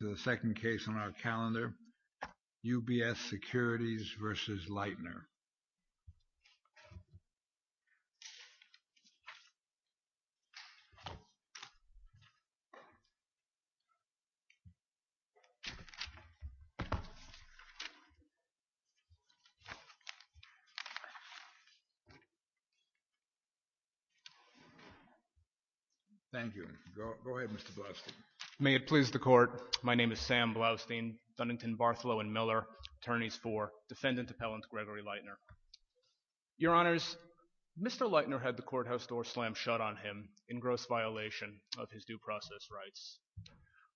The second case on our calendar, UBS Securities v. Leitner. Thank you. Go ahead, Mr. Blusty. May it please the Court, my name is Sam Blusty, Dunnington, Bartholow & Miller, Attorneys for Defendant Appellant Gregory Leitner. Your Honors, Mr. Leitner had the courthouse door slammed shut on him in gross violation of his due process rights.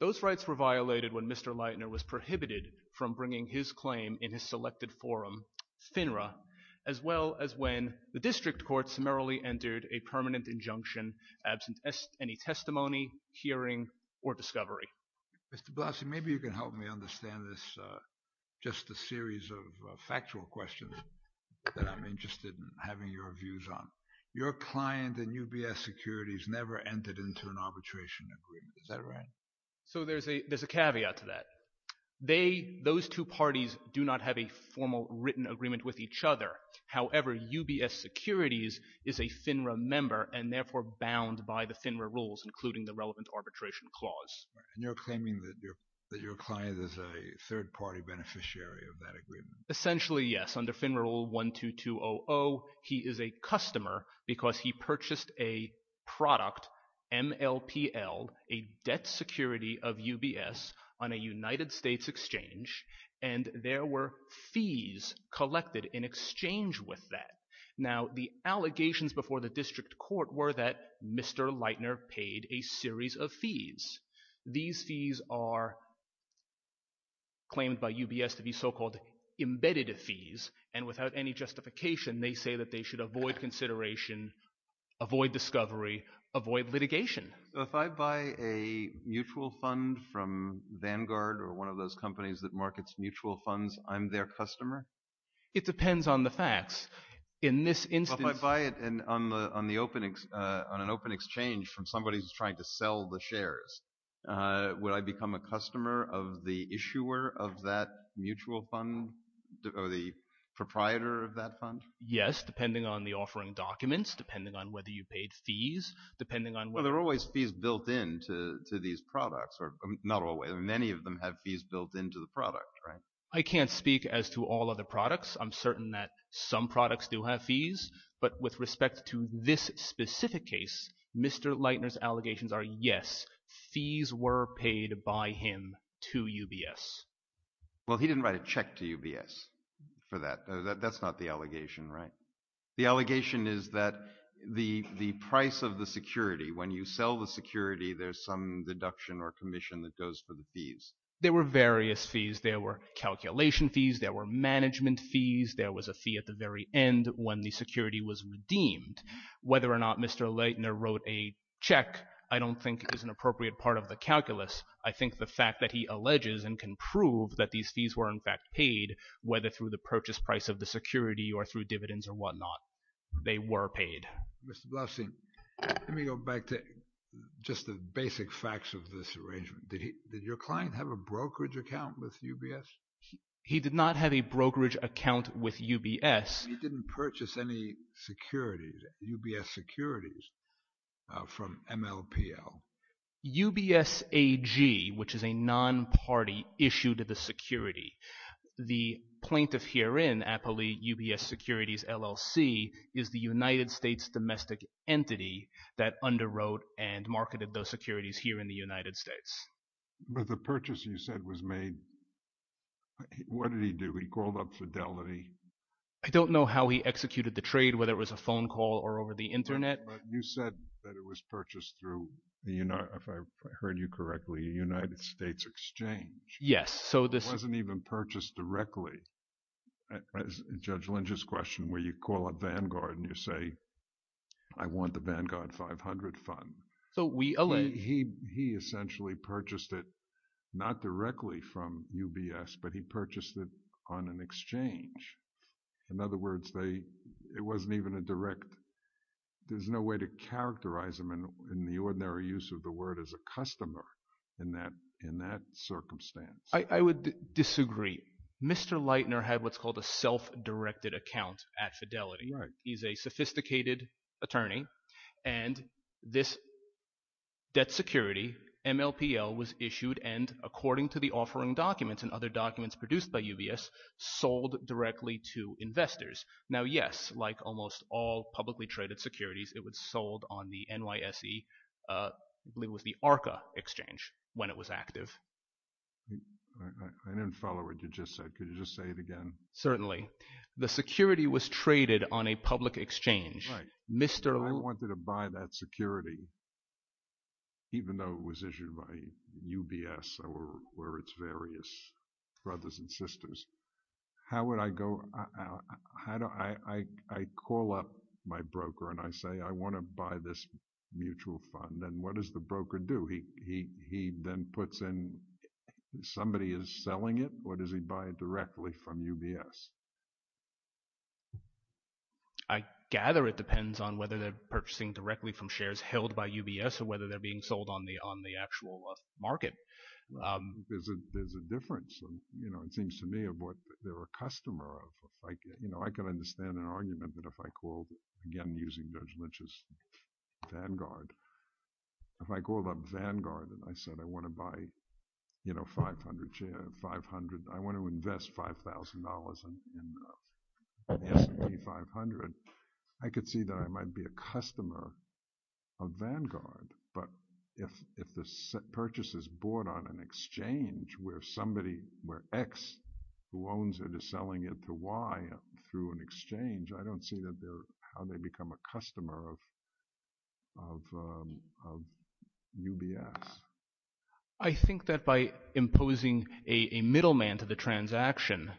Those rights were violated when Mr. Leitner was prohibited from bringing his claim in his selected forum, FINRA, as well as when the District Court summarily entered a permanent Mr. Blusty, maybe you can help me understand this, just a series of factual questions that I'm interested in having your views on. Your client and UBS Securities never entered into an arbitration agreement, is that right? So there's a caveat to that. Those two parties do not have a formal written agreement with each other, however UBS Securities is a FINRA member and therefore bound by the FINRA rules, including the relevant arbitration clause. And you're claiming that your client is a third-party beneficiary of that agreement? Essentially, yes. Under FINRA Rule 12200, he is a customer because he purchased a product, MLPL, a debt security of UBS on a United States exchange, and there were fees collected in exchange with that. Now, the allegations before the District Court were that Mr. Leitner paid a series of fees. These fees are claimed by UBS to be so-called embedded fees, and without any justification they say that they should avoid consideration, avoid discovery, avoid litigation. So if I buy a mutual fund from Vanguard or one of those companies that markets mutual funds, I'm their customer? It depends on the facts. In this instance... If I buy it on an open exchange from somebody who's trying to sell the shares, would I become a customer of the issuer of that mutual fund, or the proprietor of that fund? Yes, depending on the offering documents, depending on whether you paid fees, depending on whether... Well, there are always fees built into these products, or not always. Many of them have fees built into the product, right? I can't speak as to all of the products. I'm certain that some products do have fees, but with respect to this specific case, Mr. Leitner's allegations are, yes, fees were paid by him to UBS. Well, he didn't write a check to UBS for that. That's not the allegation, right? The allegation is that the price of the security, when you sell the security, there's some deduction or commission that goes for the fees. There were various fees. There were calculation fees. There were management fees. There was a fee at the very end when the security was redeemed. Whether or not Mr. Leitner wrote a check, I don't think is an appropriate part of the calculus. I think the fact that he alleges and can prove that these fees were, in fact, paid, whether through the purchase price of the security or through dividends or whatnot, they were paid. Mr. Bluffstein, let me go back to just the basic facts of this arrangement. Did your client have a brokerage account with UBS? He did not have a brokerage account with UBS. He didn't purchase any securities, UBS securities, from MLPL. UBS AG, which is a non-party issue to the security, the plaintiff herein, Apolli UBS Securities LLC, is the United States domestic entity that underwrote and marketed those securities in the United States. But the purchase you said was made, what did he do? He called up Fidelity. I don't know how he executed the trade, whether it was a phone call or over the internet. You said that it was purchased through, if I heard you correctly, a United States exchange. Yes. It wasn't even purchased directly. Judge Lynch's question where you call up Vanguard and you say, I want the Vanguard 500 fund. He essentially purchased it, not directly from UBS, but he purchased it on an exchange. In other words, it wasn't even a direct, there's no way to characterize him in the ordinary use of the word as a customer in that circumstance. I would disagree. Mr. Leitner had what's called a self-directed account at Fidelity. He's a sophisticated attorney and this debt security, MLPL, was issued and according to the offering documents and other documents produced by UBS, sold directly to investors. Now yes, like almost all publicly traded securities, it was sold on the NYSE, I believe it was the ARCA exchange when it was active. I didn't follow what you just said. Could you just say it again? Certainly. The security was traded on a public exchange. Right. I wanted to buy that security, even though it was issued by UBS or its various brothers and sisters. How would I go, I call up my broker and I say, I want to buy this mutual fund and what does the broker do? He then puts in, somebody is selling it or does he buy it directly from UBS? I gather it depends on whether they're purchasing directly from shares held by UBS or whether they're being sold on the actual market. There's a difference. It seems to me of what they're a customer of. I can understand an argument that if I called, again using Judge Lynch's vanguard, if I called an S&P 500, I could see that I might be a customer of Vanguard. But if the purchase is bought on an exchange where somebody, where X who owns it is selling it to Y through an exchange, I don't see how they become a customer of UBS. I think that by imposing a middleman to the transaction,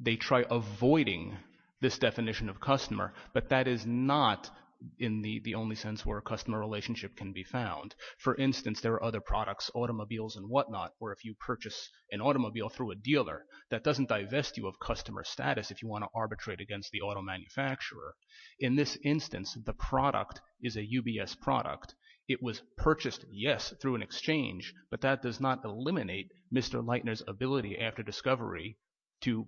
they try avoiding this definition of customer, but that is not in the only sense where a customer relationship can be found. For instance, there are other products, automobiles and whatnot, where if you purchase an automobile through a dealer, that doesn't divest you of customer status if you want to arbitrate against the auto manufacturer. In this instance, the product is a UBS product. It was purchased, yes, through an exchange, but that does not eliminate Mr. Leitner's ability after discovery to...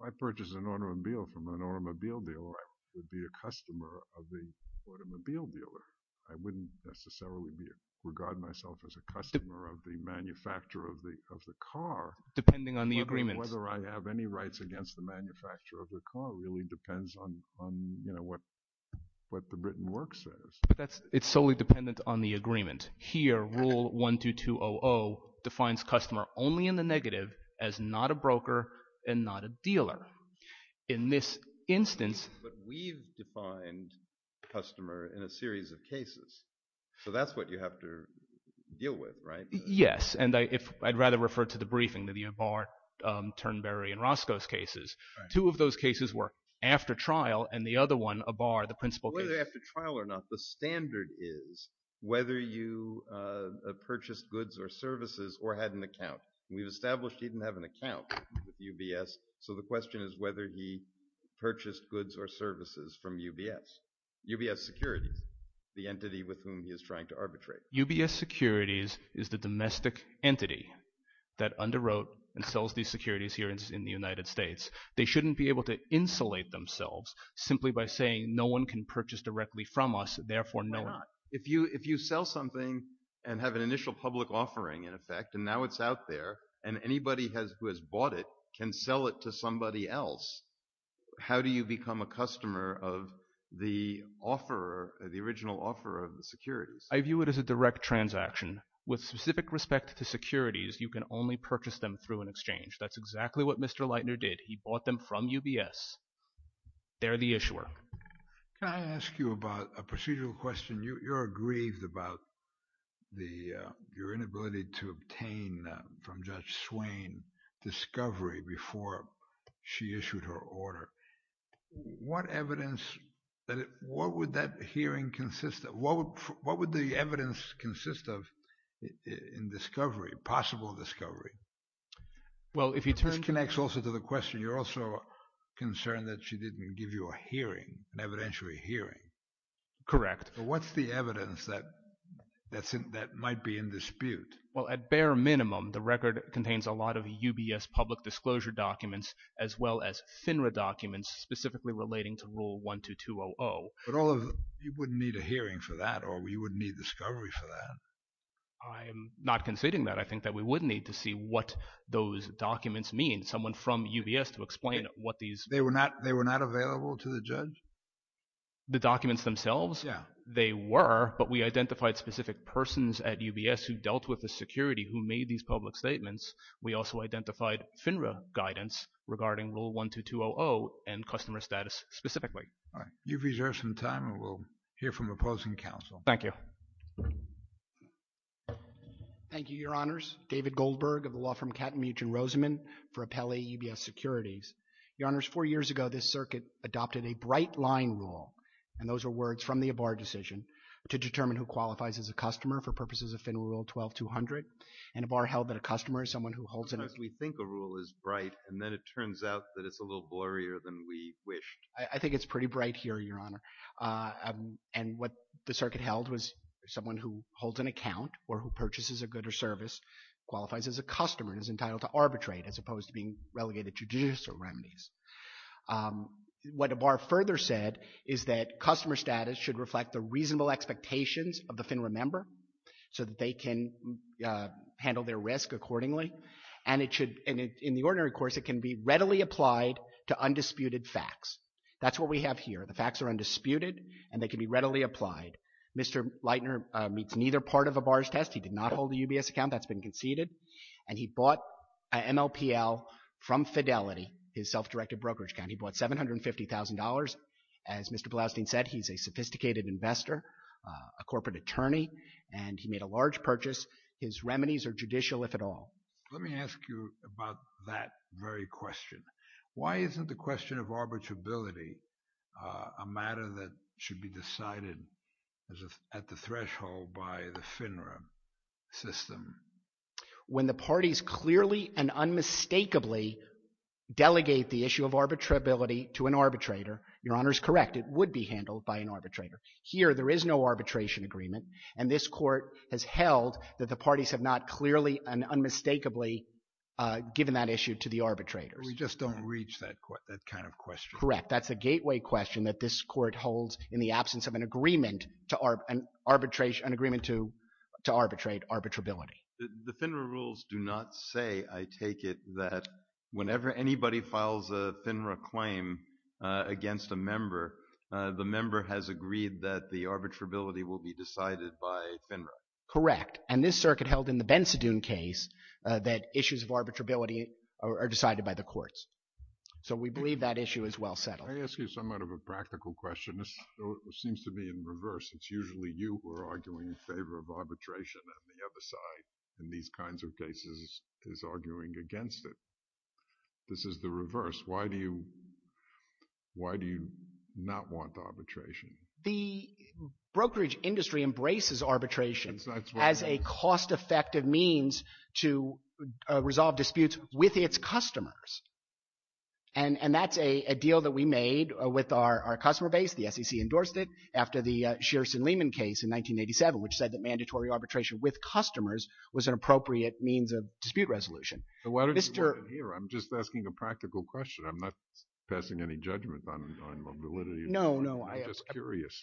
If I purchase an automobile from an automobile dealer, I would be a customer of the automobile dealer. I wouldn't necessarily regard myself as a customer of the manufacturer of the car. Depending on the agreement. Whether I have any rights against the manufacturer of the car really depends on what the written work says. It's solely dependent on the agreement. Here, rule 12200 defines customer only in the negative as not a broker and not a dealer. In this instance... But we've defined customer in a series of cases, so that's what you have to deal with, right? Yes, and I'd rather refer to the briefing, the Abar, Turnberry and Roscos cases. Two of those cases were after trial and the other one, Abar, the principal case... Well, whether after trial or not, the standard is whether you purchased goods or services or had an account. We've established he didn't have an account with UBS, so the question is whether he purchased goods or services from UBS, UBS Securities, the entity with whom he is trying to arbitrate. UBS Securities is the domestic entity that underwrote and sells these securities here in the United States. They shouldn't be able to insulate themselves simply by saying no one can purchase directly from us, therefore no one... Why not? If you sell something and have an initial public offering, in effect, and now it's out there and anybody who has bought it can sell it to somebody else, how do you become a customer of the original offeror of the securities? I view it as a direct transaction. With specific respect to securities, you can only purchase them through an exchange. That's exactly what Mr. Leitner did. He bought them from UBS. They're the issuer. Can I ask you about a procedural question? You're aggrieved about your inability to obtain from Judge Swain discovery before she issued her order. What evidence... What would that hearing consist of? What would the evidence consist of in discovery, possible discovery? This connects also to the question. You're also concerned that she didn't give you a hearing, an evidentiary hearing. Correct. What's the evidence that might be in dispute? At bare minimum, the record contains a lot of UBS public disclosure documents as well as FINRA documents specifically relating to Rule 12200. You wouldn't need a hearing for that, or you wouldn't need discovery for that? I'm not conceding that. I think that we would need to see what those documents mean. Someone from UBS to explain what these... They were not available to the judge? The documents themselves? Yeah. They were, but we identified specific persons at UBS who dealt with the security who made these public statements. We also identified FINRA guidance regarding Rule 12200 and customer status specifically. All right. You've reserved some time, and we'll hear from opposing counsel. Thank you. Thank you, Your Honor. Your Honors, David Goldberg of the law firm Kattenmuth and Roseman for Appellee UBS Securities. Your Honors, four years ago, this circuit adopted a bright line rule, and those are words from the Abar decision, to determine who qualifies as a customer for purposes of FINRA Rule 12200. And Abar held that a customer is someone who holds an... Sometimes we think a rule is bright, and then it turns out that it's a little blurrier than we wished. I think it's pretty bright here, Your Honor. And what the circuit held was someone who holds an account or who purchases a good or service qualifies as a customer and is entitled to arbitrate as opposed to being relegated to judicial remedies. What Abar further said is that customer status should reflect the reasonable expectations of the FINRA member so that they can handle their risk accordingly. And it should... In the ordinary course, it can be readily applied to undisputed facts. That's what we have here. The facts are undisputed, and they can be readily applied. Mr. Leitner meets neither part of Abar's test. He did not hold a UBS account. That's been conceded. And he bought an MLPL from Fidelity, his self-directed brokerage company, bought $750,000. As Mr. Bloustein said, he's a sophisticated investor, a corporate attorney, and he made a large purchase. His remedies are judicial, if at all. Let me ask you about that very question. Why isn't the question of arbitrability a matter that should be decided at the threshold by the FINRA system? When the parties clearly and unmistakably delegate the issue of arbitrability to an arbitrator, Your Honor is correct, it would be handled by an arbitrator. Here there is no arbitration agreement, and this court has held that the parties have not clearly and unmistakably given that issue to the arbitrators. But we just don't reach that kind of question. Correct. That's a gateway question that this court holds in the absence of an agreement to arbitrate arbitrability. The FINRA rules do not say, I take it, that whenever anybody files a FINRA claim against a member, the member has agreed that the arbitrability will be decided by FINRA. Correct. And this circuit held in the Bensidun case that issues of arbitrability are decided by the courts. So we believe that issue is well settled. Let me ask you somewhat of a practical question. This seems to be in reverse. It's usually you who are arguing in favor of arbitration, and the other side in these kinds of cases is arguing against it. This is the reverse. Why do you not want arbitration? The brokerage industry embraces arbitration as a cost-effective means to resolve disputes with its customers. And that's a deal that we made with our customer base. The SEC endorsed it after the Shearson-Lehman case in 1987, which said that mandatory arbitration with customers was an appropriate means of dispute resolution. But why don't you put it here? I'm just asking a practical question. I'm not passing any judgment on validity of the argument. No, no. I'm just curious.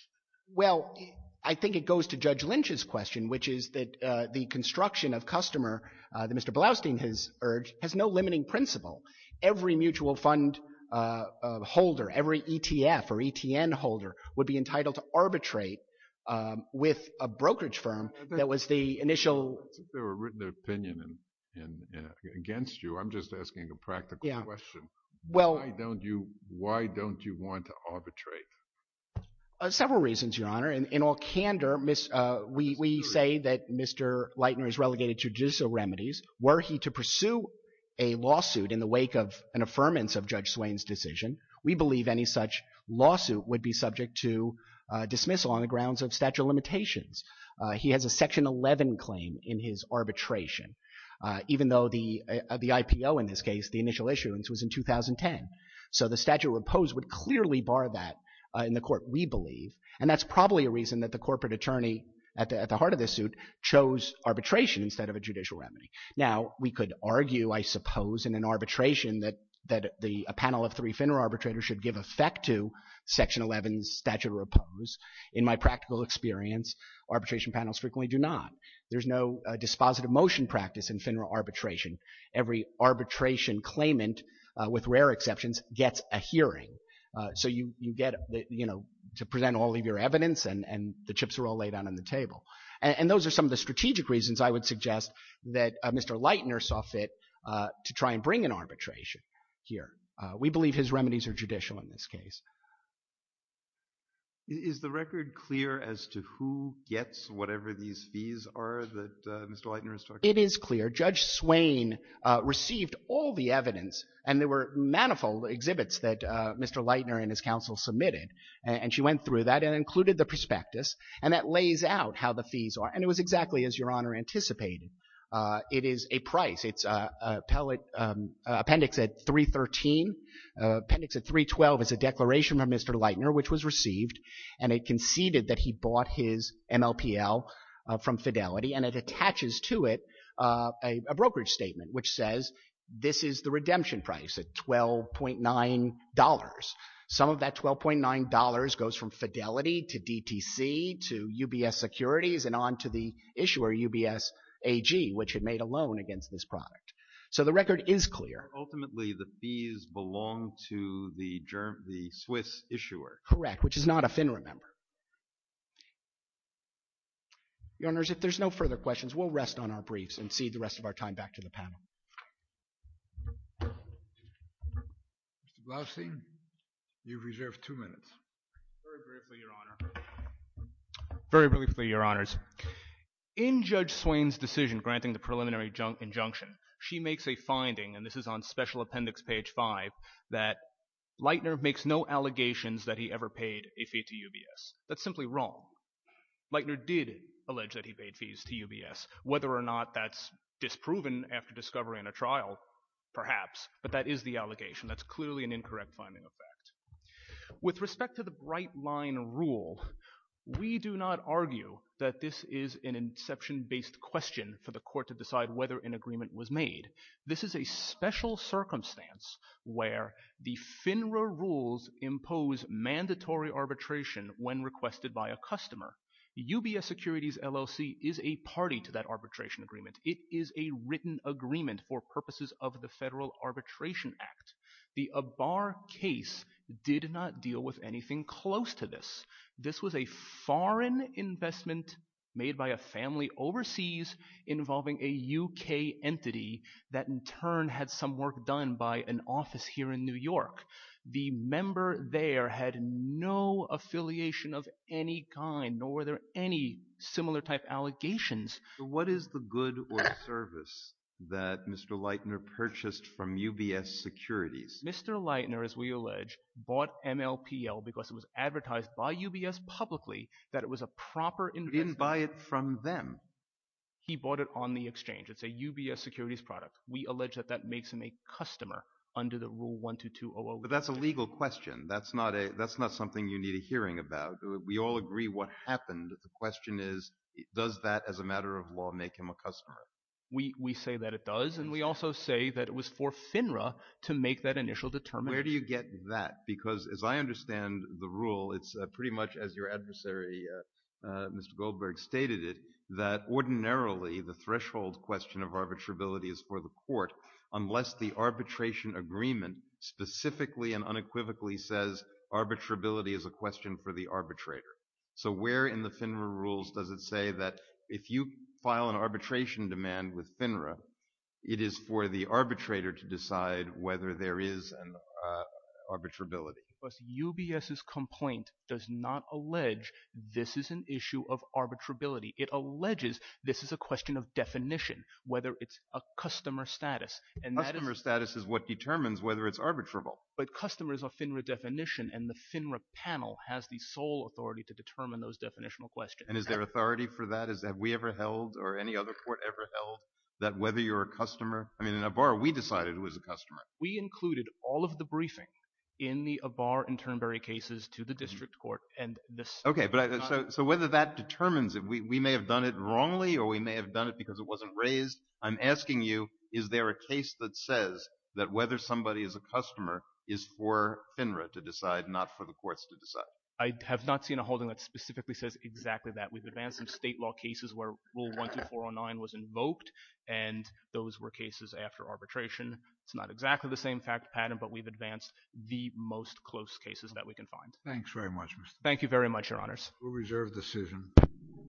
Well, I think it goes to Judge Lynch's question, which is that the construction of customer that Mr. Blaustein has urged has no limiting principle. Every mutual fund holder, every ETF or ETN holder would be entitled to arbitrate with a brokerage firm that was the initial— I don't think there were written opinion against you. I'm just asking a practical question. Why don't you want to arbitrate? Several reasons, Your Honor. In all candor, we say that Mr. Leitner is relegated to judicial remedies. Were he to pursue a lawsuit in the wake of an affirmance of Judge Swain's decision, we believe any such lawsuit would be subject to dismissal on the grounds of statute of limitations. He has a Section 11 claim in his arbitration, even though the IPO, in this case, the initial issuance was in 2010. So the statute proposed would clearly bar that in the court, we believe. And that's probably a reason that the corporate attorney at the heart of this suit chose arbitration instead of a judicial remedy. Now, we could argue, I suppose, in an arbitration that a panel of three FINRA arbitrators should give effect to Section 11's statute of repose. In my practical experience, arbitration panels frequently do not. There's no dispositive motion practice in FINRA arbitration. So you get, you know, to present all of your evidence and the chips are all laid out on the table. And those are some of the strategic reasons I would suggest that Mr. Leitner saw fit to try and bring an arbitration here. We believe his remedies are judicial in this case. Is the record clear as to who gets whatever these fees are that Mr. Leitner is talking about? It is clear. Judge Swain received all the evidence and there were manifold exhibits that Mr. Leitner and his counsel submitted. And she went through that and included the prospectus. And that lays out how the fees are. And it was exactly as Your Honor anticipated. It is a price. It's appellate appendix at 313, appendix at 312 is a declaration from Mr. Leitner, which was received. And it conceded that he bought his MLPL from Fidelity and it attaches to it a brokerage statement which says this is the redemption price at $12.9. Some of that $12.9 goes from Fidelity to DTC to UBS Securities and on to the issuer UBS AG, which had made a loan against this product. So the record is clear. Ultimately the fees belong to the Swiss issuer. Correct. Which is not a FINRA member. Your Honors, if there's no further questions, we'll rest on our briefs and cede the rest of our time back to the panel. Mr. Blousy, you've reserved two minutes. Very briefly, Your Honor. Very briefly, Your Honors. In Judge Swain's decision granting the preliminary injunction, she makes a finding and this is on Special Appendix page 5, that Leitner makes no allegations that he ever paid a fee to UBS. That's simply wrong. Leitner did allege that he paid fees to UBS. Whether or not that's disproven after discovering a trial, perhaps, but that is the allegation. That's clearly an incorrect finding of fact. With respect to the Bright Line Rule, we do not argue that this is an inception-based question for the court to decide whether an agreement was made. This is a special circumstance where the FINRA rules impose mandatory arbitration when requested by a customer. UBS Securities LLC is a party to that arbitration agreement. It is a written agreement for purposes of the Federal Arbitration Act. The Abar case did not deal with anything close to this. This was a foreign investment made by a family overseas involving a UK entity that in turn had some work done by an office here in New York. The member there had no affiliation of any kind nor were there any similar type allegations. What is the good or service that Mr. Leitner purchased from UBS Securities? Mr. Leitner, as we allege, bought MLPL because it was advertised by UBS publicly that it was a proper investment. He didn't buy it from them. He bought it on the exchange. It's a UBS Securities product. We allege that that makes him a customer under the Rule 12201. But that's a legal question. That's not something you need a hearing about. We all agree what happened. The question is, does that, as a matter of law, make him a customer? We say that it does. And we also say that it was for FINRA to make that initial determination. Where do you get that? Because as I understand the rule, it's pretty much as your adversary, Mr. Goldberg, stated it, that ordinarily the threshold question of arbitrability is for the court unless the arbitration agreement specifically and unequivocally says arbitrability is a question for the arbitrator. So where in the FINRA rules does it say that if you file an arbitration demand with FINRA, it is for the arbitrator to decide whether there is an arbitrability? UBS's complaint does not allege this is an issue of arbitrability. It alleges this is a question of definition, whether it's a customer status. Customer status is what determines whether it's arbitrable. But customers are FINRA definition, and the FINRA panel has the sole authority to determine those definitional questions. And is there authority for that? Is that we ever held, or any other court ever held, that whether you're a customer? I mean, in Avar, we decided who was a customer. We included all of the briefing in the Avar and Turnberry cases to the district court, and this— Okay, so whether that determines it, we may have done it wrongly, or we may have done it because it wasn't raised. I'm asking you, is there a case that says that whether somebody is a customer is for FINRA to decide, not for the courts to decide? I have not seen a holding that specifically says exactly that. We've advanced some state law cases where Rule 12409 was invoked, and those were cases after arbitration. It's not exactly the same fact pattern, but we've advanced the most close cases that we can find. Thanks very much, Mr. — Thank you very much, Your Honors. Rule reserve decision.